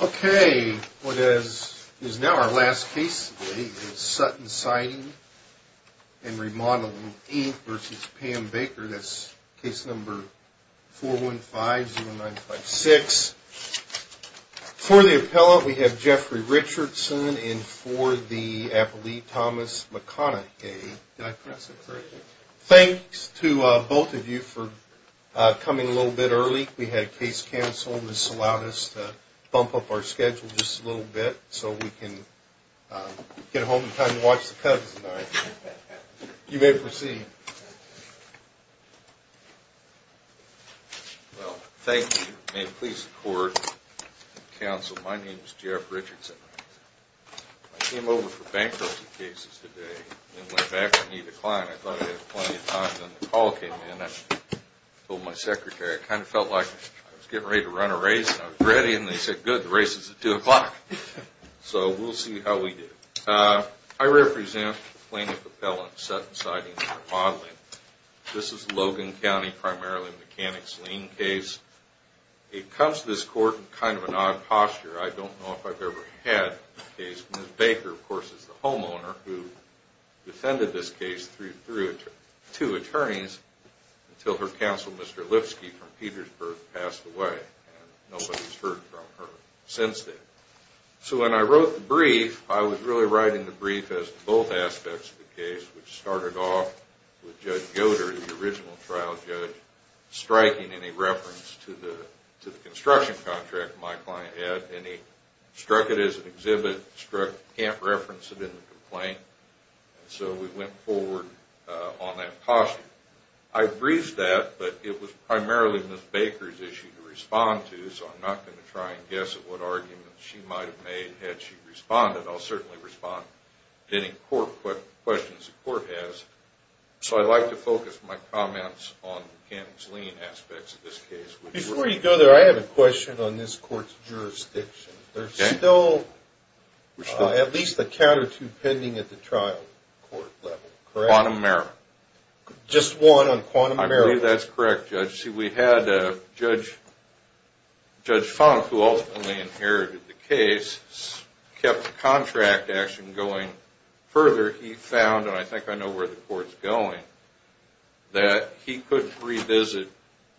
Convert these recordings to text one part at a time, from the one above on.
Okay, what is now our last case today is Sutton Siding & Remodeling, Inc. v. Pam Baker. That's case number 415-0956. For the appellant, we have Jeffrey Richardson, and for the appellee, Thomas McConaughey. Thanks to both of you for coming a little bit early. Last week, we had case counsel. This allowed us to bump up our schedule just a little bit so we can get home in time to watch the Cubs tonight. You may proceed. Well, thank you. May it please the court and counsel, my name is Jeff Richardson. I came over for bankruptcy cases today and went back to meet a client. I thought I had plenty of time, then the call came in. I told my secretary, I kind of felt like I was getting ready to run a race. I was ready, and they said, good, the race is at 2 o'clock. So we'll see how we do. I represent plaintiff appellant Sutton Siding & Remodeling. This is Logan County primarily mechanics lien case. It comes to this court in kind of an odd posture. I don't know if I've ever had a case. Ms. Baker, of course, is the homeowner who defended this case through two attorneys until her counsel, Mr. Lipsky from Petersburg, passed away. Nobody's heard from her since then. So when I wrote the brief, I was really writing the brief as both aspects of the case, which started off with Judge Goder, the original trial judge, striking any reference to the construction contract my client had, and he struck it as an exhibit, struck, can't reference it in the complaint. So we went forward on that caution. I briefed that, but it was primarily Ms. Baker's issue to respond to, so I'm not going to try and guess at what arguments she might have made had she responded. I'll certainly respond to any questions the court has. So I'd like to focus my comments on mechanics lien aspects of this case. Before you go there, I have a question on this court's jurisdiction. There's still at least a count or two pending at the trial court level, correct? Quantum Merrill. Just one on Quantum Merrill? I believe that's correct, Judge. See, we had Judge Funk, who ultimately inherited the case, kept the contract action going further. He found, and I think I know where the court's going, that he couldn't revisit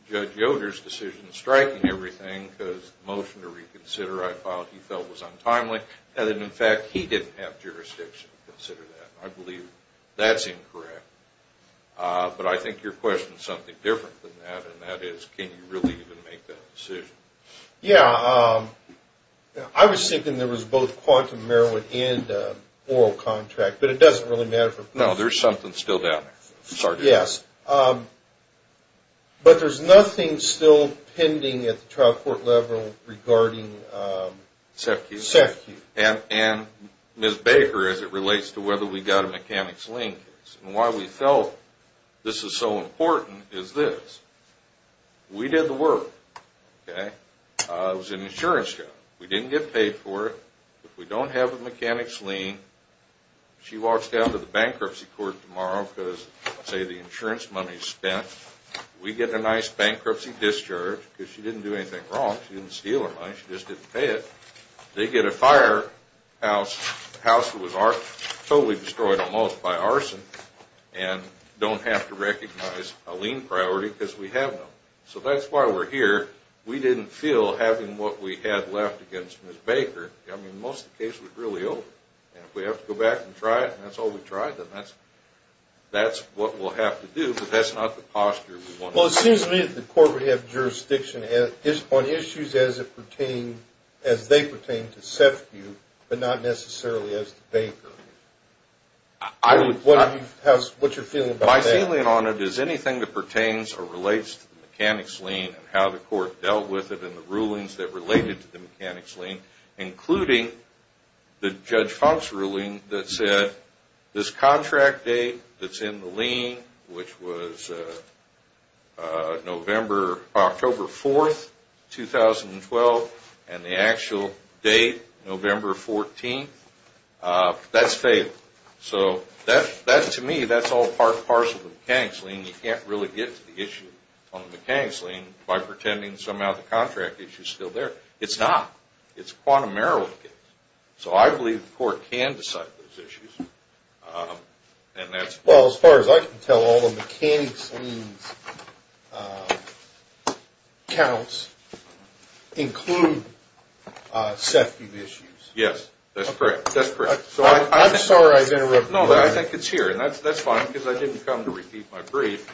Judge Goder's decision striking everything because the motion to reconsider I filed he felt was untimely, and that, in fact, he didn't have jurisdiction to consider that. I believe that's incorrect. But I think your question is something different than that, and that is, can you really even make that decision? Yeah. I was thinking there was both Quantum Merrill and oral contract, but it doesn't really matter for both. No, there's something still down there. Yes. But there's nothing still pending at the trial court level regarding... SEFCU. SEFCU. And, Ms. Baker, as it relates to whether we got a mechanics lien case, and why we felt this is so important is this. We did the work, okay? It was an insurance job. We didn't get paid for it. If we don't have a mechanics lien, she walks down to the bankruptcy court tomorrow because, say, the insurance money's spent. We get a nice bankruptcy discharge because she didn't do anything wrong. She didn't steal her money. She just didn't pay it. They get a fire house, a house that was totally destroyed almost by arson, and don't have to recognize a lien priority because we have none. So that's why we're here. We didn't feel having what we had left against Ms. Baker. I mean, most of the cases were really old. And if we have to go back and try it, and that's all we tried, then that's what we'll have to do. But that's not the posture we want to have. Well, it seems to me that the court would have jurisdiction on issues as they pertain to SEFCU, but not necessarily as to Baker. What's your feeling about that? My feeling on it is anything that pertains or relates to the mechanics lien and how the court dealt with it and the rulings that related to the mechanics lien, including the Judge Funk's ruling that said, this contract date that's in the lien, which was October 4th, 2012, and the actual date, November 14th, that's failed. So to me, that's all part and parcel of the mechanics lien. You can't really get to the issue on the mechanics lien by pretending somehow the contract issue is still there. It's not. It's a quantum merrill case. So I believe the court can decide those issues. Well, as far as I can tell, all the mechanics lien counts include SEFCU issues. Yes, that's correct. I'm sorry I've interrupted you there. No, I think it's here, and that's fine because I didn't come to repeat my brief.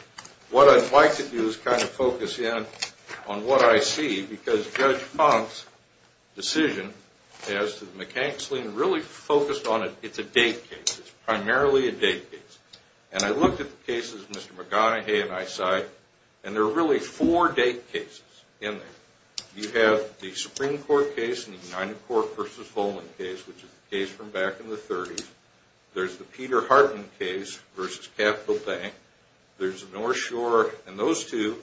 What I'd like to do is kind of focus in on what I see because Judge Funk's decision as to the mechanics lien really focused on it. It's a date case. It's primarily a date case. And I looked at the cases Mr. McGonaghy and I cite, and there are really four date cases in there. You have the Supreme Court case and the United Court v. Holman case, which is a case from back in the 30s. There's the Peter Hartman case v. Capital Bank. There's the North Shore and those two.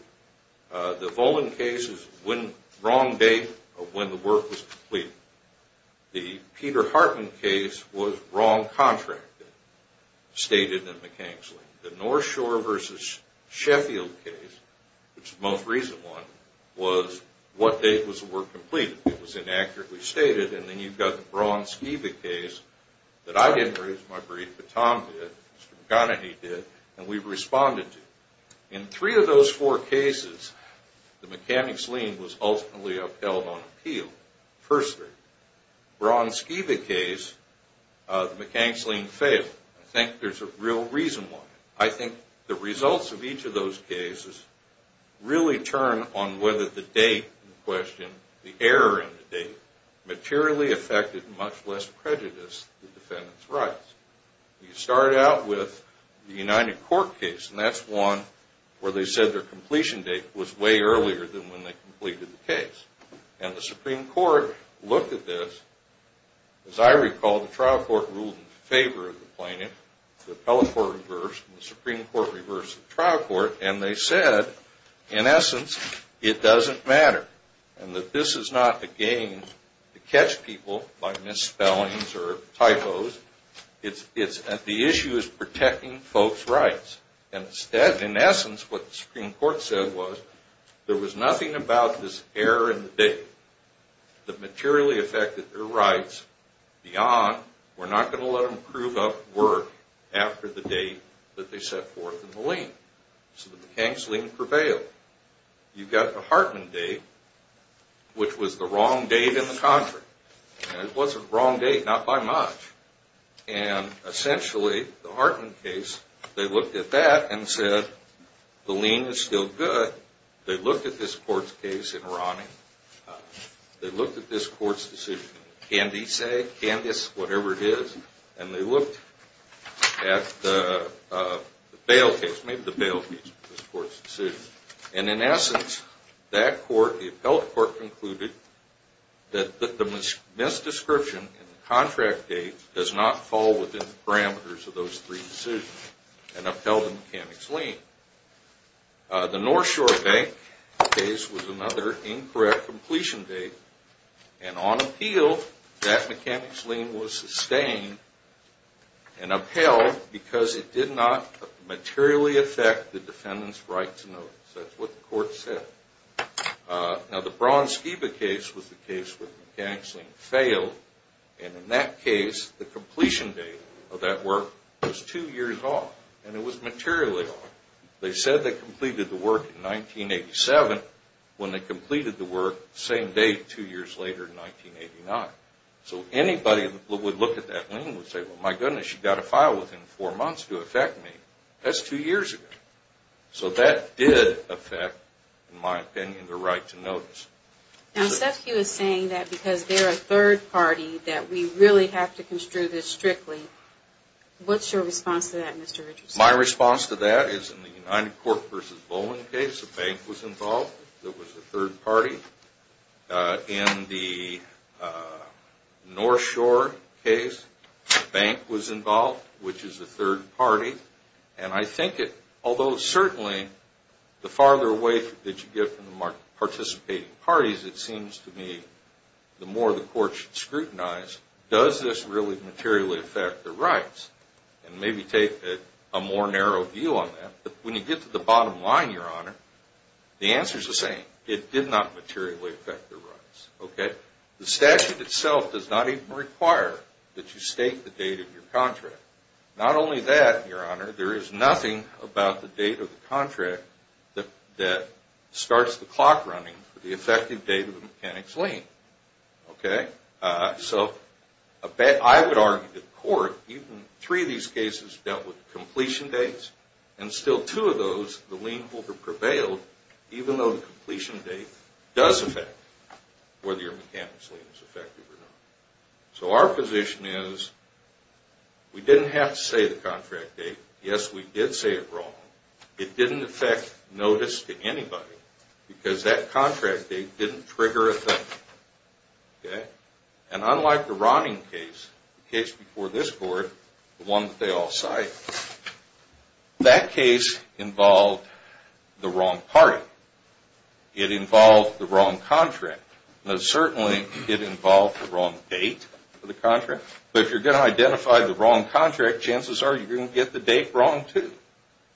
The Volman case is the wrong date of when the work was completed. The Peter Hartman case was wrong contract date stated in the mechanics lien. The North Shore v. Sheffield case, which is the most recent one, was what date was the work completed. It was inaccurately stated. And then you've got the Braun-Skiba case that I didn't raise my brief, but Tom did, Mr. McGonaghy did, and we responded to. In three of those four cases, the mechanics lien was ultimately upheld on appeal, firstly. Braun-Skiba case, the mechanics lien failed. I think there's a real reason why. I think the results of each of those cases really turn on whether the date in question, the error in the date, materially affected, much less prejudiced, the defendant's rights. You start out with the United Court case, and that's one where they said their completion date was way earlier than when they completed the case. And the Supreme Court looked at this. As I recall, the trial court ruled in favor of the plaintiff. The appellate court reversed, and the Supreme Court reversed the trial court, and they said, in essence, it doesn't matter, and that this is not a game to catch people by misspellings or typos. The issue is protecting folks' rights. And instead, in essence, what the Supreme Court said was, there was nothing about this error in the date that materially affected their rights beyond, we're not going to let them prove up work after the date that they set forth in the lien. So the mechanics lien prevailed. You've got the Hartman date, which was the wrong date in the contract. It was a wrong date, not by much. And essentially, the Hartman case, they looked at that and said, the lien is still good. They looked at this court's case in Ronnie. They looked at this court's decision in Candice, whatever it is, and they looked at the bail case, maybe the bail case, this court's decision. And in essence, that court, the upheld court, concluded that the misdescription in the contract date does not fall within the parameters of those three decisions and upheld the mechanics lien. The North Shore Bank case was another incorrect completion date, and on appeal, that mechanics lien was sustained and upheld because it did not materially affect the defendant's right to notice. That's what the court said. Now, the Braun-Skiba case was the case where the mechanics lien failed, and in that case, the completion date of that work was two years off, and it was materially off. They said they completed the work in 1987 when they completed the work the same day, two years later, in 1989. So anybody that would look at that lien would say, well, my goodness, you've got to file within four months to affect me. That's two years ago. So that did affect, in my opinion, the right to notice. Now, Sefke was saying that because they're a third party, that we really have to construe this strictly. What's your response to that, Mr. Richardson? My response to that is in the United Corp versus Bowman case, the bank was involved. It was a third party. In the North Shore case, the bank was involved, which is a third party. And I think it, although certainly the farther away that you get from the participating parties, it seems to me the more the court should scrutinize does this really materially affect the rights and maybe take a more narrow view on that. But when you get to the bottom line, Your Honor, the answer is the same. It did not materially affect the rights. Okay? The statute itself does not even require that you state the date of your contract. Not only that, Your Honor, there is nothing about the date of the contract that starts the clock running for the effective date of the mechanic's lien. Okay? So I would argue to the court, even three of these cases dealt with completion dates, and still two of those, the lien holder prevailed even though the completion date does affect whether your mechanic's lien is effective or not. So our position is we didn't have to say the contract date. Yes, we did say it wrong. It didn't affect notice to anybody because that contract date didn't trigger a thing. Okay? And unlike the Romney case, the case before this court, the one that they all cited, that case involved the wrong party. It involved the wrong contract. Now certainly it involved the wrong date of the contract, but if you're going to identify the wrong contract, chances are you're going to get the date wrong too.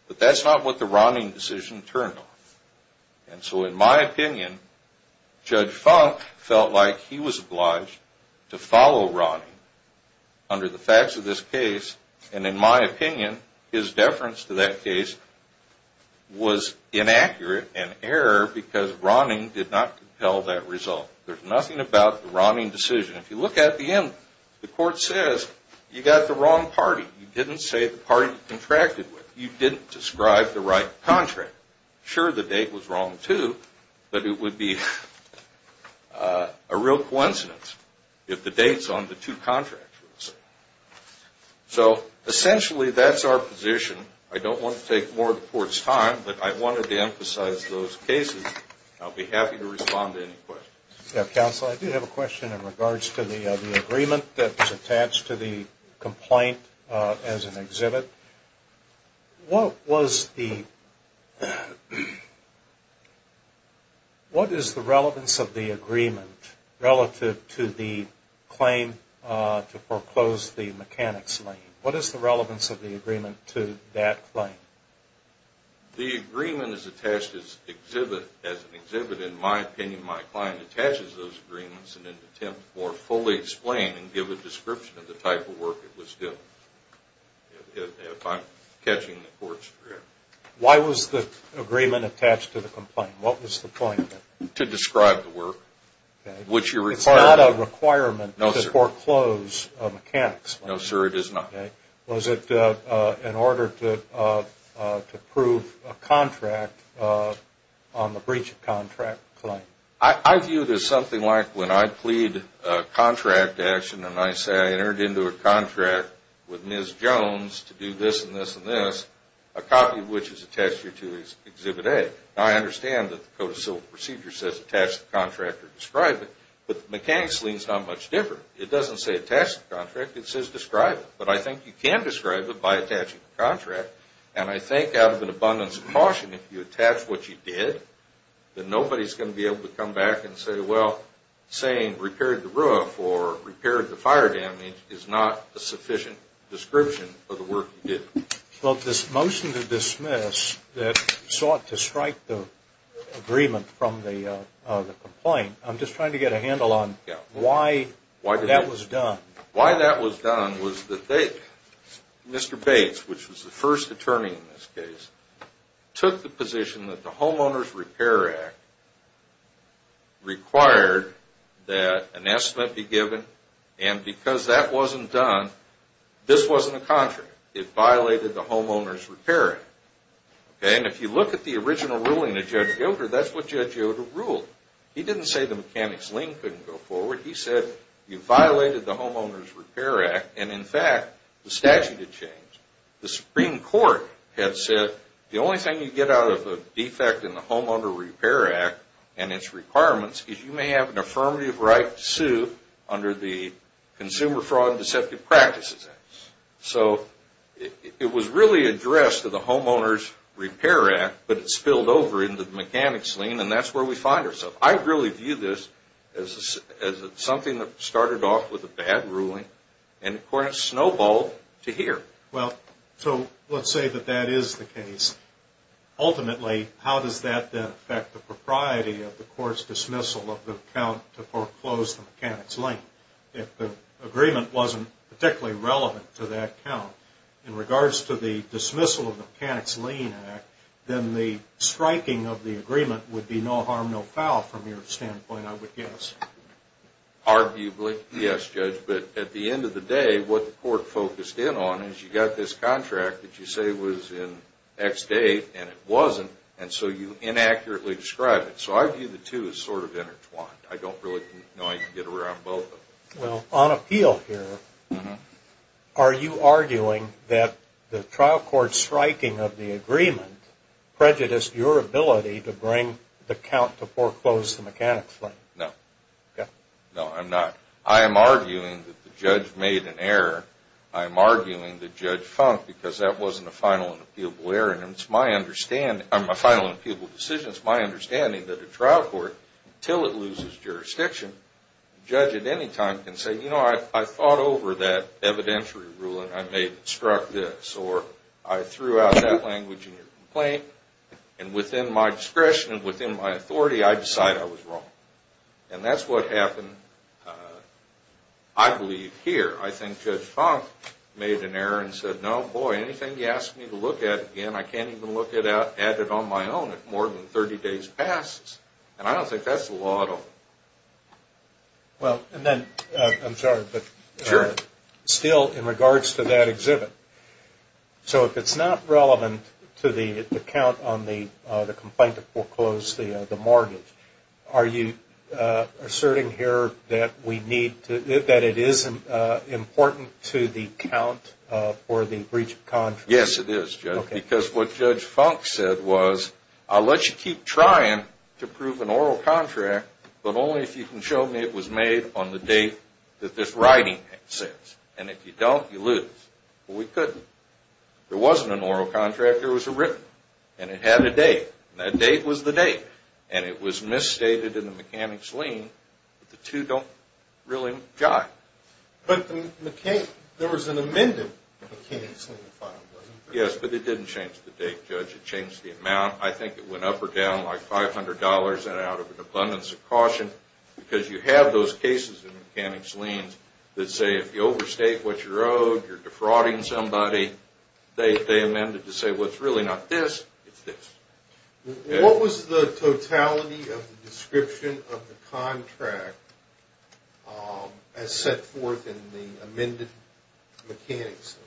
But that's not what the Romney decision turned off. And so in my opinion, Judge Funk felt like he was obliged to follow Romney under the facts of this case. And in my opinion, his deference to that case was inaccurate and error because Romney did not compel that result. There's nothing about the Romney decision. If you look at the end, the court says you got the wrong party. You didn't say the party you contracted with. You didn't describe the right contract. Sure, the date was wrong too, but it would be a real coincidence if the dates on the two contracts were the same. So essentially that's our position. I don't want to take more of the court's time, but I wanted to emphasize those cases. I'll be happy to respond to any questions. Counsel, I do have a question in regards to the agreement that's attached to the complaint as an exhibit. What is the relevance of the agreement relative to the claim to foreclose the mechanics lane? What is the relevance of the agreement to that claim? The agreement is attached as an exhibit. In my opinion, my client attaches those agreements in an attempt to fully explain and give a description of the type of work it was doing. If I'm catching the court's drift. Why was the agreement attached to the complaint? What was the point of it? To describe the work. It's not a requirement to foreclose mechanics lane. No, sir, it is not. Was it in order to prove a contract on the breach of contract claim? I view it as something like when I plead contract action and I say I entered into a contract with Ms. Jones to do this and this and this, a copy of which is attached here to exhibit A. I understand that the Code of Civil Procedure says attach the contract or describe it, but the mechanics lane is not much different. It doesn't say attach the contract. It says describe it, but I think you can describe it by attaching the contract, and I think out of an abundance of caution, if you attach what you did, then nobody's going to be able to come back and say, well, saying repaired the roof or repaired the fire damage is not a sufficient description of the work you did. Well, this motion to dismiss that sought to strike the agreement from the complaint, I'm just trying to get a handle on why that was done. Why that was done was that Mr. Bates, which was the first attorney in this case, took the position that the Homeowners Repair Act required that an estimate be given, and because that wasn't done, this wasn't a contract. It violated the Homeowners Repair Act. And if you look at the original ruling of Judge Yoder, that's what Judge Yoder ruled. He didn't say the mechanics lane couldn't go forward. He said you violated the Homeowners Repair Act, and in fact, the statute had changed. The Supreme Court had said the only thing you get out of a defect in the Homeowner Repair Act and its requirements is you may have an affirmative right to sue under the Consumer Fraud and Deceptive Practices Act. So it was really addressed to the Homeowners Repair Act, but it spilled over into the mechanics lane, and that's where we find ourselves. I really view this as something that started off with a bad ruling, and, of course, snowballed to here. Well, so let's say that that is the case. Ultimately, how does that then affect the propriety of the court's dismissal of the count to foreclose the mechanics lane? If the agreement wasn't particularly relevant to that count, in regards to the dismissal of the mechanics lane act, then the striking of the agreement would be no harm, no foul from your standpoint, I would guess. Arguably, yes, Judge, but at the end of the day, what the court focused in on is you got this contract that you say was in X date, and it wasn't, and so you inaccurately describe it. So I view the two as sort of intertwined. I don't really know how you can get around both of them. Well, on appeal here, are you arguing that the trial court striking of the agreement prejudiced your ability to bring the count to foreclose the mechanics lane? No. Okay. No, I'm not. I am arguing that the judge made an error. I am arguing that Judge Funk, because that wasn't a final and appealable error, and it's my understanding, a final and appealable decision, it's my understanding that the trial court, until it loses jurisdiction, the judge at any time can say, you know, I thought over that evidentiary ruling. I may have struck this, or I threw out that language in your complaint, and within my discretion and within my authority, I decide I was wrong. And that's what happened, I believe, here. I think Judge Funk made an error and said, no, boy, anything you ask me to look at again, I can't even look at it on my own if more than 30 days passes. And I don't think that's the law at all. Well, and then, I'm sorry, but still in regards to that exhibit, so if it's not relevant to the account on the complaint that foreclosed the mortgage, are you asserting here that we need to, that it isn't important to the account for the breach of contract? Yes, it is, Judge, because what Judge Funk said was, I'll let you keep trying to prove an oral contract, but only if you can show me it was made on the date that this writing exists. And if you don't, you lose. Well, we couldn't. There wasn't an oral contract. There was a written, and it had a date. That date was the date, and it was misstated in the mechanics lien, but the two don't really jive. But there was an amended mechanics lien, wasn't there? Yes, but it didn't change the date, Judge. It changed the amount. I think it went up or down like $500 and out of an abundance of caution, because you have those cases in mechanics liens that say, if you overstate what you're owed, you're defrauding somebody, they amend it to say, well, it's really not this, it's this. What was the totality of the description of the contract as set forth in the amended mechanics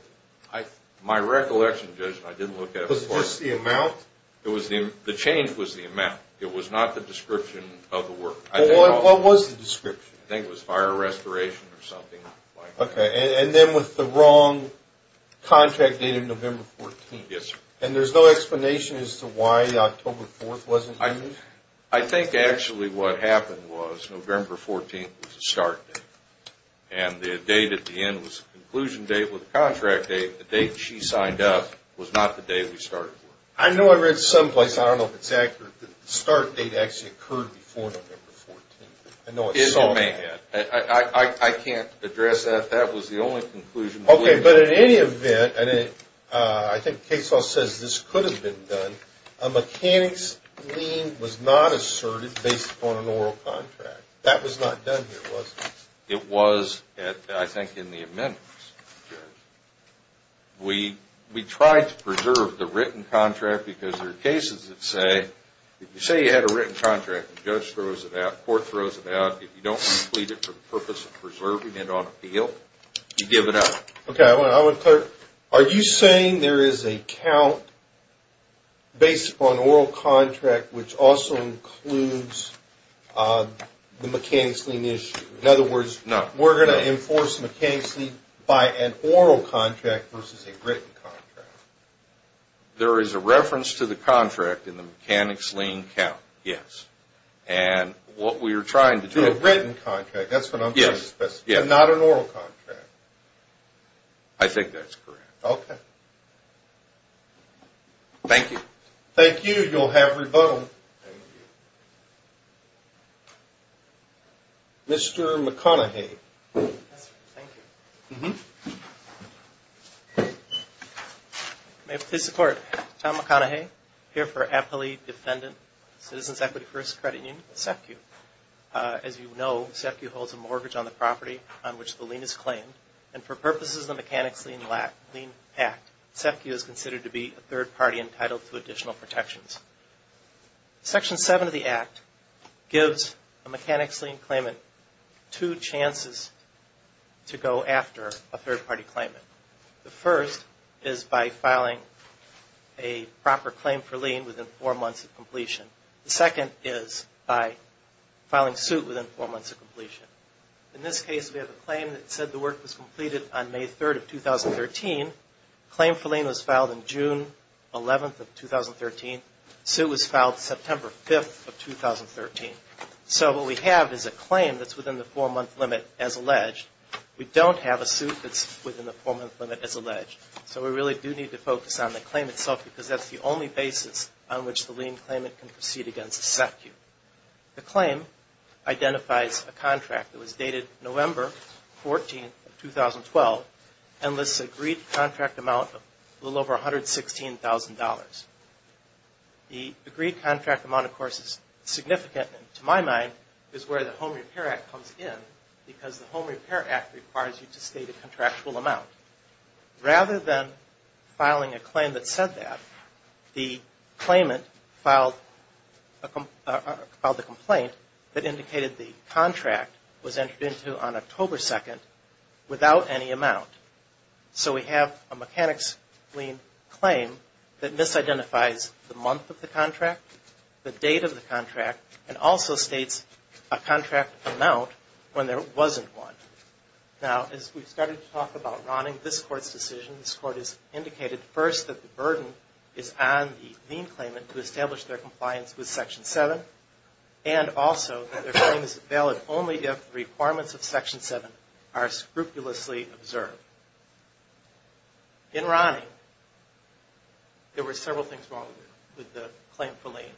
lien? My recollection, Judge, and I didn't look at it before. Was it just the amount? The change was the amount. It was not the description of the work. Well, what was the description? I think it was fire restoration or something like that. Okay, and then with the wrong contract date of November 14th. Yes, sir. And there's no explanation as to why October 4th wasn't used? I think actually what happened was November 14th was the start date, and the date at the end was the conclusion date with the contract date. The date she signed up was not the day we started the work. I know I read someplace, I don't know if it's accurate, that the start date actually occurred before November 14th. I know I saw that. I can't address that. That was the only conclusion. Okay, but in any event, I think Case Law says this could have been done. A mechanics lien was not asserted based upon an oral contract. That was not done here, was it? It was, I think, in the amendments, Judge. We tried to preserve the written contract because there are cases that say, if you say you had a written contract and the judge throws it out, the court throws it out, if you don't complete it for the purpose of preserving it on appeal, you give it up. Okay, I want to clarify. Are you saying there is a count based upon oral contract which also includes the mechanics lien issue? In other words, we're going to enforce the mechanics lien by an oral contract versus a written contract. There is a reference to the contract in the mechanics lien count, yes. And what we were trying to do – To a written contract, that's what I'm trying to specify, not an oral contract. I think that's correct. Okay. Thank you. Thank you. You'll have rebuttal. Thank you. Mr. McConaughey. Yes, sir. Thank you. May it please the Court. Tom McConaughey, here for appellee defendant, Citizens Equity First Credit Union, SEFCU. As you know, SEFCU holds a mortgage on the property on which the lien is claimed, and for purposes of the mechanics lien act, SEFCU is considered to be a third party entitled to additional protections. Section 7 of the act gives a mechanics lien claimant two chances to go after a third party claimant. The first is by filing a proper claim for lien within four months of completion. The second is by filing suit within four months of completion. In this case, we have a claim that said the work was completed on May 3rd of 2013. Claim for lien was filed on June 11th of 2013. Suit was filed September 5th of 2013. So what we have is a claim that's within the four-month limit as alleged. We don't have a suit that's within the four-month limit as alleged, so we really do need to focus on the claim itself because that's the only basis on which the lien claimant can proceed against SEFCU. The claim identifies a contract that was dated November 14th of 2012 and lists an agreed contract amount of a little over $116,000. The agreed contract amount, of course, is significant, and to my mind, is where the Home Repair Act comes in because the Home Repair Act requires you to state a contractual amount. Rather than filing a claim that said that, the claimant filed the complaint that indicated the contract was entered into on October 2nd without any amount. So we have a mechanics lien claim that misidentifies the month of the contract, the date of the contract, and also states a contract amount when there wasn't one. Now, as we started to talk about Ronning, this Court's decision, this Court has indicated, first, that the burden is on the lien claimant to establish their compliance with Section 7, and also that their claim is valid only if the requirements of Section 7 are scrupulously observed. In Ronning, there were several things wrong with the claim for lien,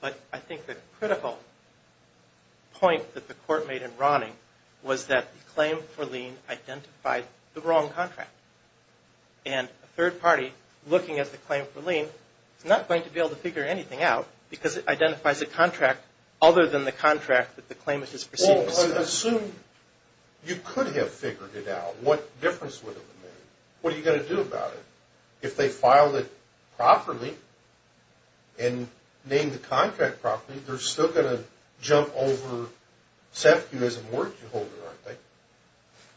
but I think the critical point that the Court made in Ronning was that the claim for lien identified the wrong contract. And a third party, looking at the claim for lien, is not going to be able to figure anything out because it identifies a contract other than the contract that the claimant has proceeded to pursue. Well, I assume you could have figured it out. What difference would it have made? What are you going to do about it? If they filed it properly and named the contract properly, they're still going to jump over SEFCU as a mortgage holder, aren't they?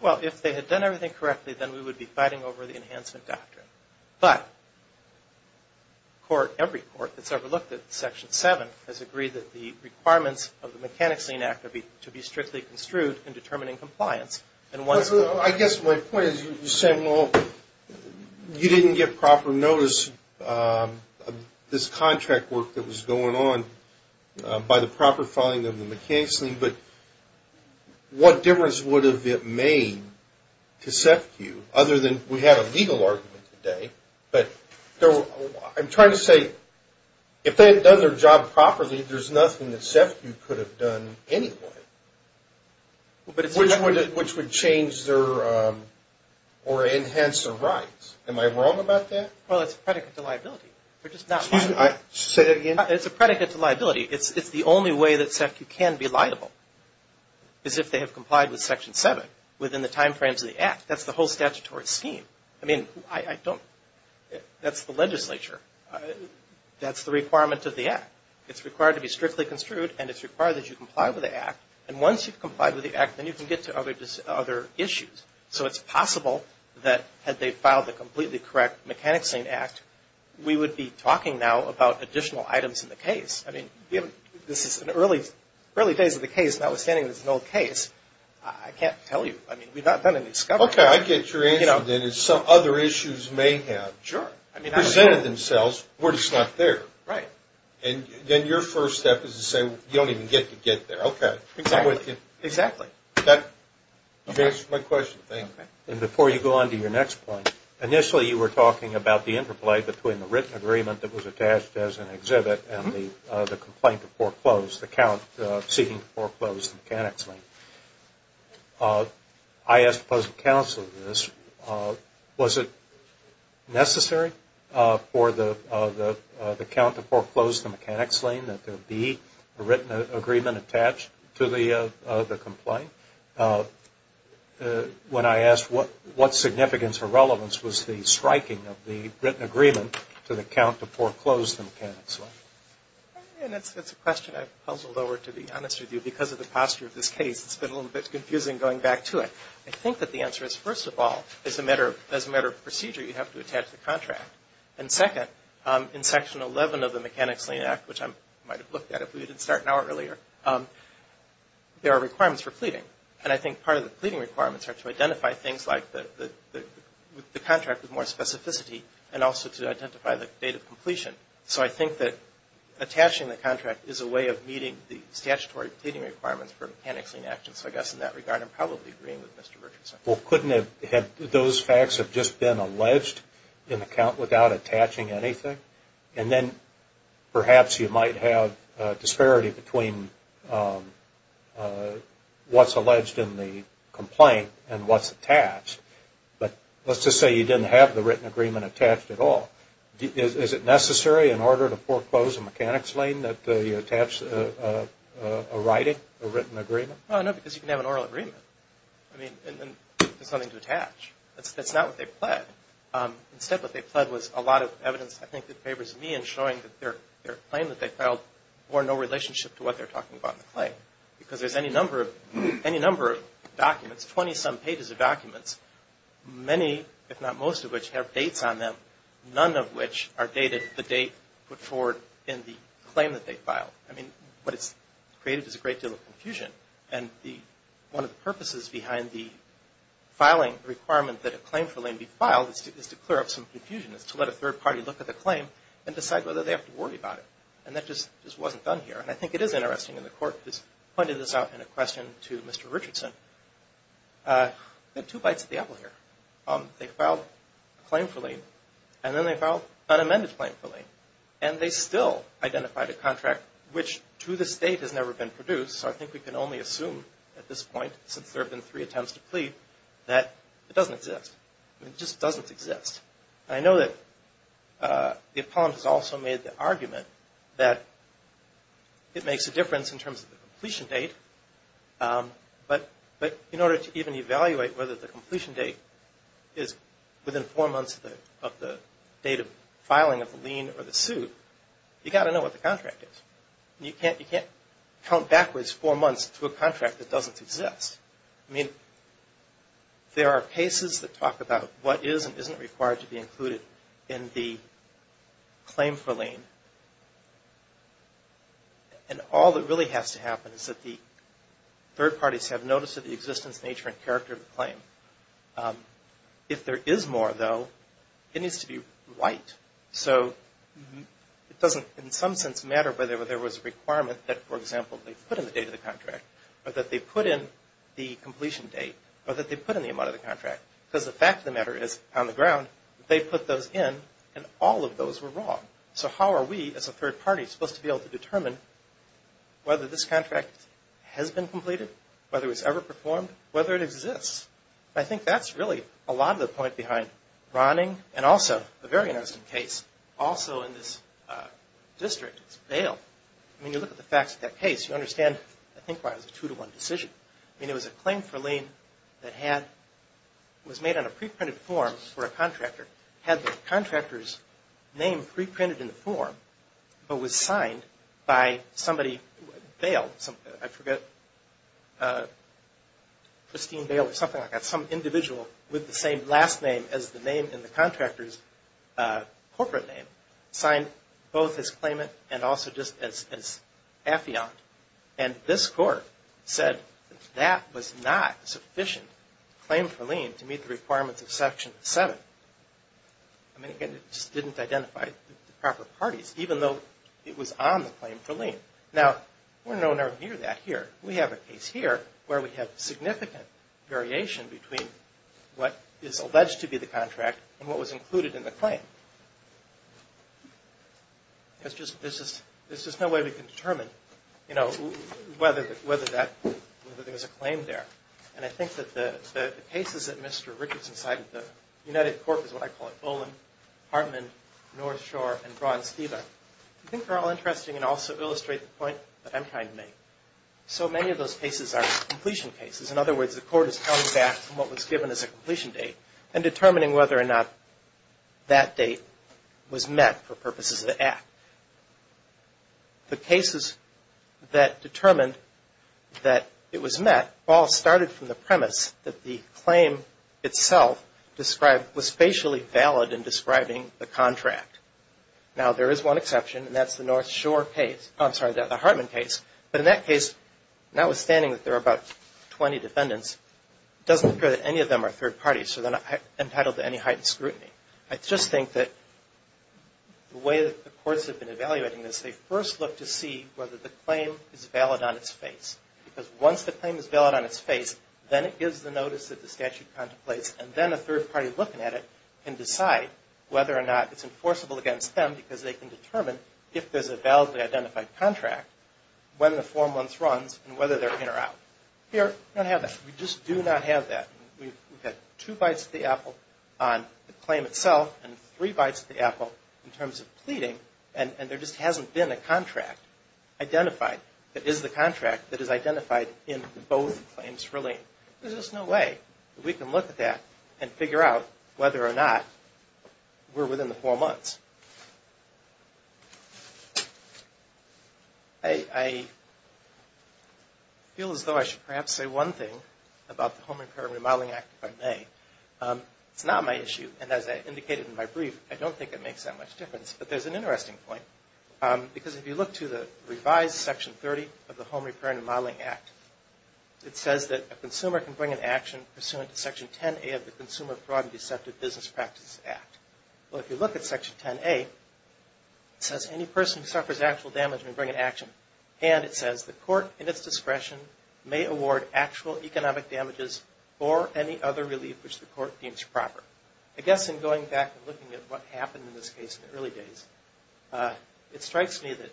Well, if they had done everything correctly, then we would be fighting over the enhancement doctrine. But every Court that's ever looked at Section 7 has agreed that the requirements of the Mechanics Lien Act are to be strictly construed in determining compliance. I guess my point is you're saying, well, you didn't get proper notice of this contract work that was going on by the proper filing of the Mechanics Lien, but what difference would it have made to SEFCU? We had a legal argument today, but I'm trying to say, if they had done their job properly, there's nothing that SEFCU could have done anyway. Which would change or enhance their rights. Am I wrong about that? Well, it's a predicate to liability. Say that again? It's a predicate to liability. It's the only way that SEFCU can be liable, is if they have complied with Section 7 within the time frames of the Act. That's the whole statutory scheme. I mean, that's the legislature. That's the requirement of the Act. It's required to be strictly construed, and it's required that you comply with the Act. And once you've complied with the Act, then you can get to other issues. So it's possible that had they filed the completely correct Mechanics Lien Act, we would be talking now about additional items in the case. I mean, this is in the early days of the case, notwithstanding it's an old case. I can't tell you. I mean, we've not done any discovery. Okay, I get your answer then. Some other issues may have presented themselves where it's not there. Right. And then your first step is to say, you don't even get to get there. Okay. Exactly. You've answered my question. Thank you. And before you go on to your next point, initially you were talking about the interplay between the written agreement that was attached as an exhibit and the complaint to foreclose, the count seeking to foreclose the Mechanics Lien. I asked the President Counsel this. Was it necessary for the count to foreclose the Mechanics Lien that there be a written agreement attached to the complaint? When I asked what significance or relevance was the striking of the written agreement to the count to foreclose the Mechanics Lien? That's a question I've puzzled over, to be honest with you, because of the posture of this case. It's been a little bit confusing going back to it. I think that the answer is, first of all, as a matter of procedure, you have to attach the contract. And second, in Section 11 of the Mechanics Lien Act, which I might have looked at if we didn't start an hour earlier, there are requirements for pleading. And I think part of the pleading requirements are to identify things like the contract with more specificity and also to identify the date of completion. So I think that attaching the contract is a way of meeting the statutory pleading requirements for Mechanics Lien actions. So I guess in that regard, I'm probably agreeing with Mr. Richardson. Well, couldn't those facts have just been alleged in the count without attaching anything? And then perhaps you might have a disparity between what's alleged in the complaint and what's attached. But let's just say you didn't have the written agreement attached at all. Is it necessary in order to foreclose a Mechanics Lien that you attach a writing, a written agreement? No, because you can have an oral agreement. I mean, and then there's nothing to attach. That's not what they pled. Instead, what they pled was a lot of evidence, I think, that favors me in showing that their claim that they filed bore no relationship to what they're talking about in the claim. Because there's any number of documents, 20-some pages of documents, many, if not most of which, have dates on them. None of which are dated the date put forward in the claim that they filed. I mean, what it's created is a great deal of confusion. And one of the purposes behind the filing requirement that a claim for lien be filed is to clear up some confusion. It's to let a third party look at the claim and decide whether they have to worry about it. And that just wasn't done here. And I think it is interesting, and the Court has pointed this out in a question to Mr. Richardson. We've got two bites of the apple here. They filed a claim for lien, and then they filed an unamended claim for lien. And they still identified a contract which, to this date, has never been produced. So I think we can only assume at this point, since there have been three attempts to plead, that it doesn't exist. It just doesn't exist. And I know that the appellant has also made the argument that it makes a difference in terms of the completion date. But in order to even evaluate whether the completion date is within four months of the date of filing of the lien or the suit, you've got to know what the contract is. And you can't count backwards four months to a contract that doesn't exist. I mean, there are cases that talk about what is and isn't required to be included in the claim for lien. And all that really has to happen is that the third parties have notice of the existence, nature, and character of the claim. If there is more, though, it needs to be right. So it doesn't, in some sense, matter whether there was a requirement that, for example, they put in the date of the contract, or that they put in the completion date, or that they put in the amount of the contract. Because the fact of the matter is, on the ground, they put those in, and all of those were wrong. So how are we, as a third party, supposed to be able to determine whether this contract has been completed, whether it was ever performed, whether it exists? I think that's really a lot of the point behind Ronning, and also a very interesting case, also in this district, it's Bale. I mean, you look at the facts of that case, you understand, I think, why it was a two-to-one decision. I mean, it was a claim for lien that was made on a pre-printed form for a contractor. Had the contractor's name pre-printed in the form, but was signed by somebody, Bale, I forget, Christine Bale, or something like that, some individual with the same last name as the name in the contractor's corporate name, signed both his claimant and also just as affiant. And this court said that that was not sufficient claim for lien to meet the requirements of Section 7. I mean, again, it just didn't identify the proper parties, even though it was on the claim for lien. Now, we're no near that here. We have a case here where we have significant variation between what is alleged to be the contract and what was included in the claim. There's just no way we can determine, you know, whether there was a claim there. And I think that the cases that Mr. Richardson cited, the United Corp. is what I call it, Olin, Hartman, North Shore, and Braun-Steva, I think are all interesting and also illustrate the point that I'm trying to make. So many of those cases are completion cases. In other words, the court is coming back from what was given as a completion date and determining whether or not that date was met for purposes of the Act. The cases that determined that it was met all started from the premise that the claim itself was spatially valid in describing the contract. Now, there is one exception, and that's the Hartman case. But in that case, notwithstanding that there are about 20 defendants, it doesn't appear that any of them are third parties, so they're not entitled to any heightened scrutiny. I just think that the way that the courts have been evaluating this, they first look to see whether the claim is valid on its face. Because once the claim is valid on its face, then it gives the notice that the statute contemplates, and then a third party looking at it can decide whether or not it's enforceable against them because they can determine if there's a validly identified contract, when the four months runs, and whether they're in or out. Here, we don't have that. We just do not have that. We've got two bites at the apple on the claim itself and three bites at the apple in terms of pleading, and there just hasn't been a contract identified that is the contract that is identified in both claims for lien. There's just no way that we can look at that and figure out whether or not we're within the four months. I feel as though I should perhaps say one thing about the Home Repair and Remodeling Act, if I may. It's not my issue, and as I indicated in my brief, I don't think it makes that much difference. But there's an interesting point, because if you look to the revised Section 30 of the Home Repair and Remodeling Act, it says that a consumer can bring an action pursuant to Section 10A of the Consumer Fraud and Deceptive Business Practice Act. Well, if you look at Section 10A, it says any person who suffers actual damage may bring an action, and it says the court, in its discretion, may award actual economic damages or any other relief which the court deems proper. I guess in going back and looking at what happened in this case in the early days, it strikes me that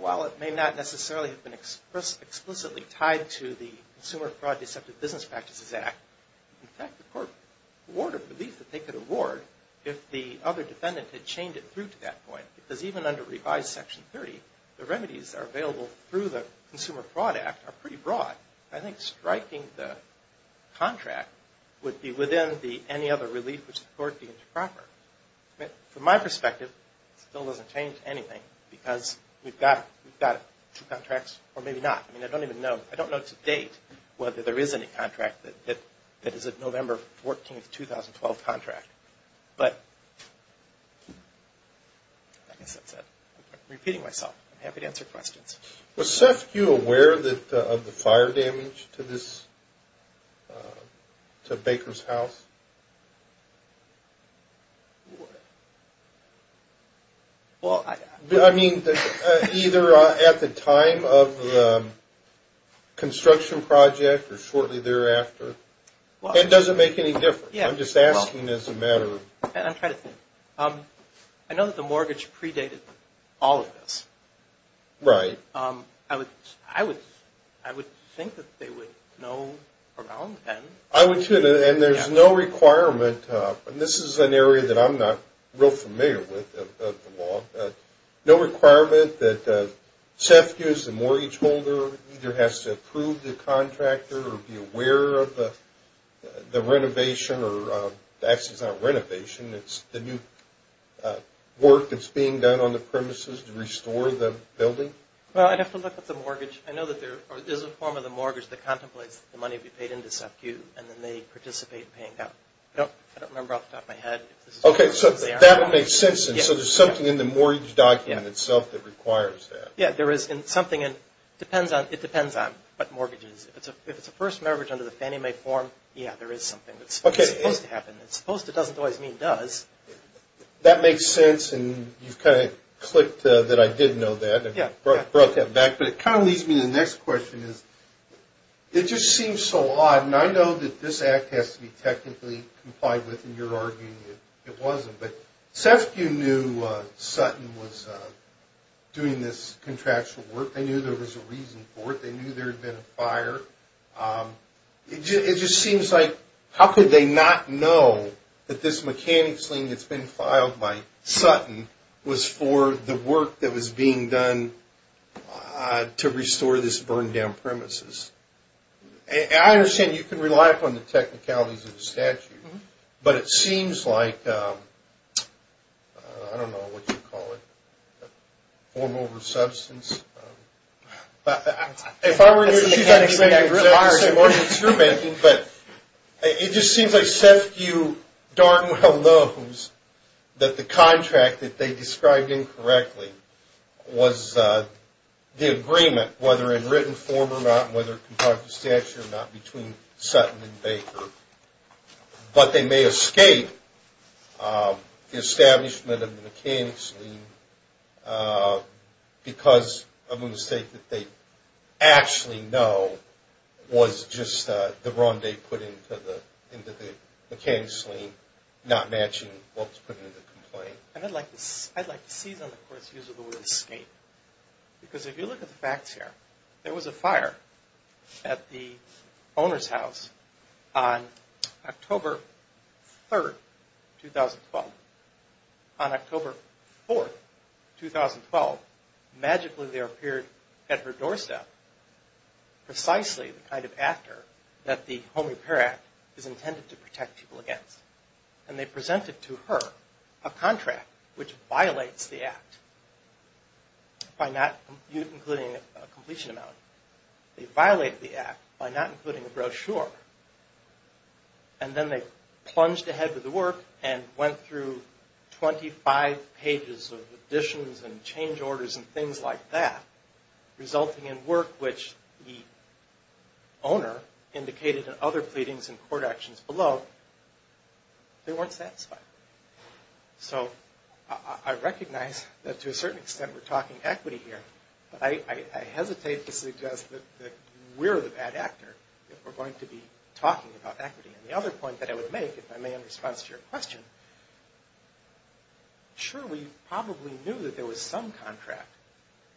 while it may not necessarily have been explicitly tied to the Consumer Fraud and Deceptive Business Practices Act, in fact, the court would award a relief that they could award if the other defendant had chained it through to that point. Because even under revised Section 30, the remedies that are available through the Consumer Fraud Act are pretty broad. I think striking the contract would be within any other relief which the court deems proper. From my perspective, it still doesn't change anything because we've got two contracts or maybe not. I mean, I don't even know. I don't know to date whether there is any contract that is a November 14, 2012 contract. But like I said, I'm repeating myself. I'm happy to answer questions. Was SEFCU aware of the fire damage to Baker's house? I mean, either at the time of the construction project or shortly thereafter? It doesn't make any difference. I'm just asking as a matter of... I know that the mortgage predated all of this. Right. I would think that they would know around then. I would too. And there's no requirement, and this is an area that I'm not real familiar with of the law, no requirement that SEFCU as the mortgage holder either has to approve the contractor or be aware of the renovation or actually it's not renovation, it's the new work that's being done on the premises to restore the building? Well, I'd have to look at the mortgage. I know that there is a form of the mortgage that contemplates the money to be paid into SEFCU, and then they participate in paying that. I don't remember off the top of my head. Okay, so that would make sense. And so there's something in the mortgage document itself that requires that. Yeah, there is. And something depends on what mortgage it is. If it's a first memory under the Fannie Mae form, yeah, there is something that's supposed to happen. Supposed to doesn't always mean does. That makes sense, and you've kind of clicked that I did know that and brought that back. But it kind of leads me to the next question is it just seems so odd, and I know that this act has to be technically complied with, and you're arguing it wasn't. But SEFCU knew Sutton was doing this contractual work. They knew there was a reason for it. They knew there had been a fire. It just seems like how could they not know that this mechanics lien that's been filed by Sutton was for the work that was being done to restore this burned-down premises? And I understand you can rely upon the technicalities of the statute, but it seems like, I don't know what you'd call it, form over substance. If I were in your shoes, I'd be saying it's a mortgage instrument. But it just seems like SEFCU darn well knows that the contract that they described incorrectly was the agreement, whether in written form or not, whether a comparative statute or not, between Sutton and Baker. But they may escape the establishment of the mechanics lien because of a mistake that they actually know was just the wrong date put into the mechanics lien, not matching what was put into the complaint. And I'd like to see them, of course, use the word escape. Because if you look at the facts here, there was a fire at the owner's house on October 3, 2012. On October 4, 2012, magically there appeared at her doorstep precisely the kind of actor that the Home Repair Act is intended to protect people against. And they presented to her a contract which violates the Act, including a completion amount. They violated the Act by not including a brochure. And then they plunged ahead with the work and went through 25 pages of additions and change orders and things like that, resulting in work which the owner indicated in other pleadings and court actions below, they weren't satisfied. So I recognize that to a certain extent we're talking equity here, but I hesitate to suggest that we're the bad actor if we're going to be talking about equity. And the other point that I would make, if I may in response to your question, sure, we probably knew that there was some contract,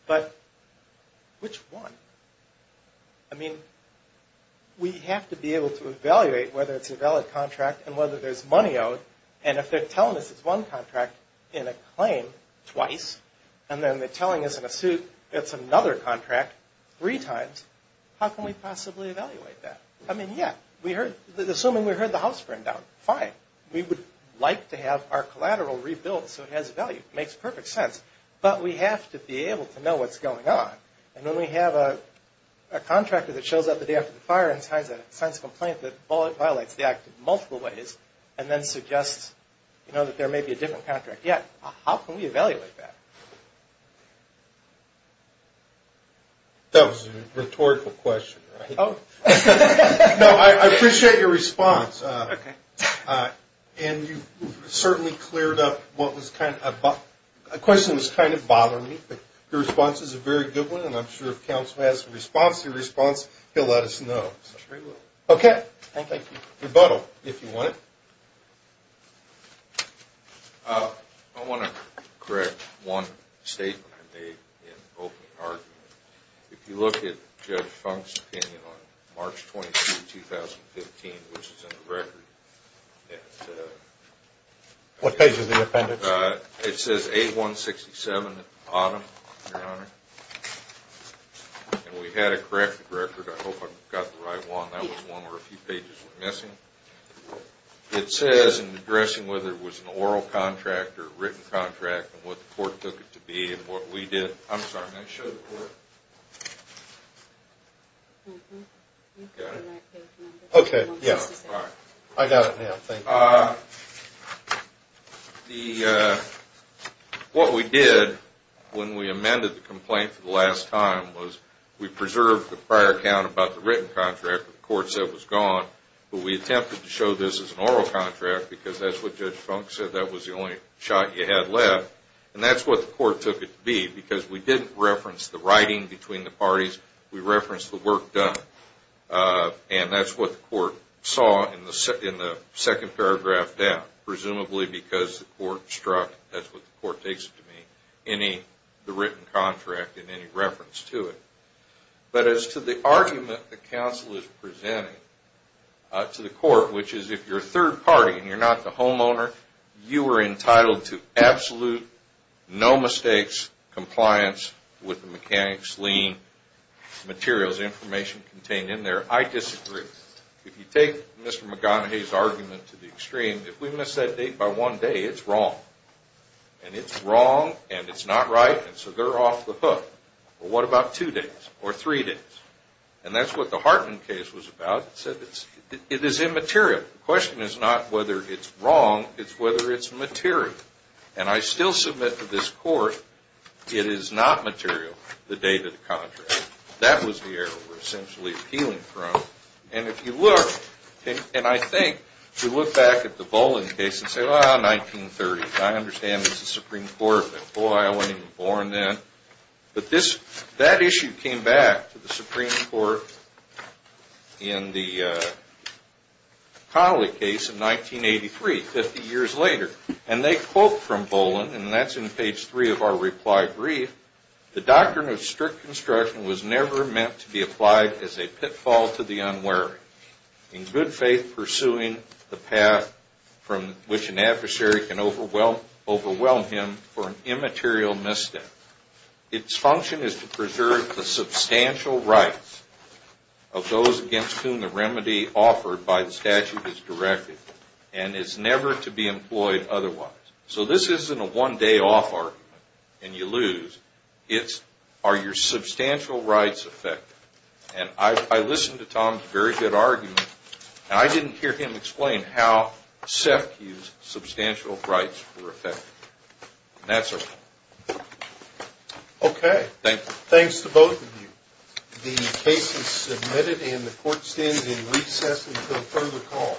but which one? I mean, we have to be able to evaluate whether it's a valid contract and whether there's money owed. And if they're telling us it's one contract in a claim twice, and then they're telling us in a suit it's another contract three times, how can we possibly evaluate that? I mean, yeah, assuming we heard the house burn down, fine. We would like to have our collateral rebuilt so it has value. It makes perfect sense. But we have to be able to know what's going on. And when we have a contractor that shows up the day after the fire and signs a complaint that violates the act in multiple ways and then suggests that there may be a different contract, yeah, how can we evaluate that? That was a rhetorical question, right? Oh. No, I appreciate your response. Okay. And you certainly cleared up what was kind of a question that was kind of bothering me. Your response is a very good one, and I'm sure if counsel has a response to your response, he'll let us know. I'm sure he will. Okay. Thank you. Rebuttal, if you want it. I want to correct one statement I made in opening argument. If you look at Judge Funk's opinion on March 22, 2015, which is in the record. What page of the appendix? It says 8167 at the bottom, Your Honor. And we had to correct the record. I hope I got the right one. That was one where a few pages were missing. It says in addressing whether it was an oral contract or a written contract and what the court took it to be and what we did. I'm sorry. May I show the court? Got it? Okay. Yeah. I got it now. Thank you. What we did when we amended the complaint for the last time was we preserved the prior account about the written contract that the court said was gone, but we attempted to show this as an oral contract because that's what Judge Funk said. That was the only shot you had left. And that's what the court took it to be because we didn't reference the writing between the parties. We referenced the work done. And that's what the court saw in the second paragraph down, presumably because the court struck that's what the court takes it to be, the written contract and any reference to it. But as to the argument the counsel is presenting to the court, which is if you're a third party and you're not the homeowner, you are entitled to absolute, no mistakes, compliance with the mechanics, lien, materials, information contained in there, I disagree. If you take Mr. McGonaghy's argument to the extreme, if we miss that date by one day, it's wrong. And it's wrong and it's not right, and so they're off the hook. But what about two days or three days? And that's what the Hartman case was about. It said it is immaterial. The question is not whether it's wrong. It's whether it's material. And I still submit to this court it is not material, the date of the contract. That was the area we're essentially appealing from. And if you look, and I think if you look back at the Boling case and say, well, 1930, I understand it's the Supreme Court, but boy, I wasn't even born then. But that issue came back to the Supreme Court in the Connolly case in 1983, 50 years later. And they quote from Boling, and that's in page three of our reply brief, the doctrine of strict construction was never meant to be applied as a pitfall to the unwary, in good faith pursuing the path from which an adversary can overwhelm him for an immaterial misstep. Its function is to preserve the substantial rights of those against whom the remedy offered by the statute is directed and is never to be employed otherwise. So this isn't a one-day-off argument and you lose. It's are your substantial rights affected? And I listened to Tom's very good argument, and I didn't hear him explain how SEFCU's substantial rights were affected. And that's our point. Okay. Thanks to both of you. The case is submitted and the court stands in recess until further call.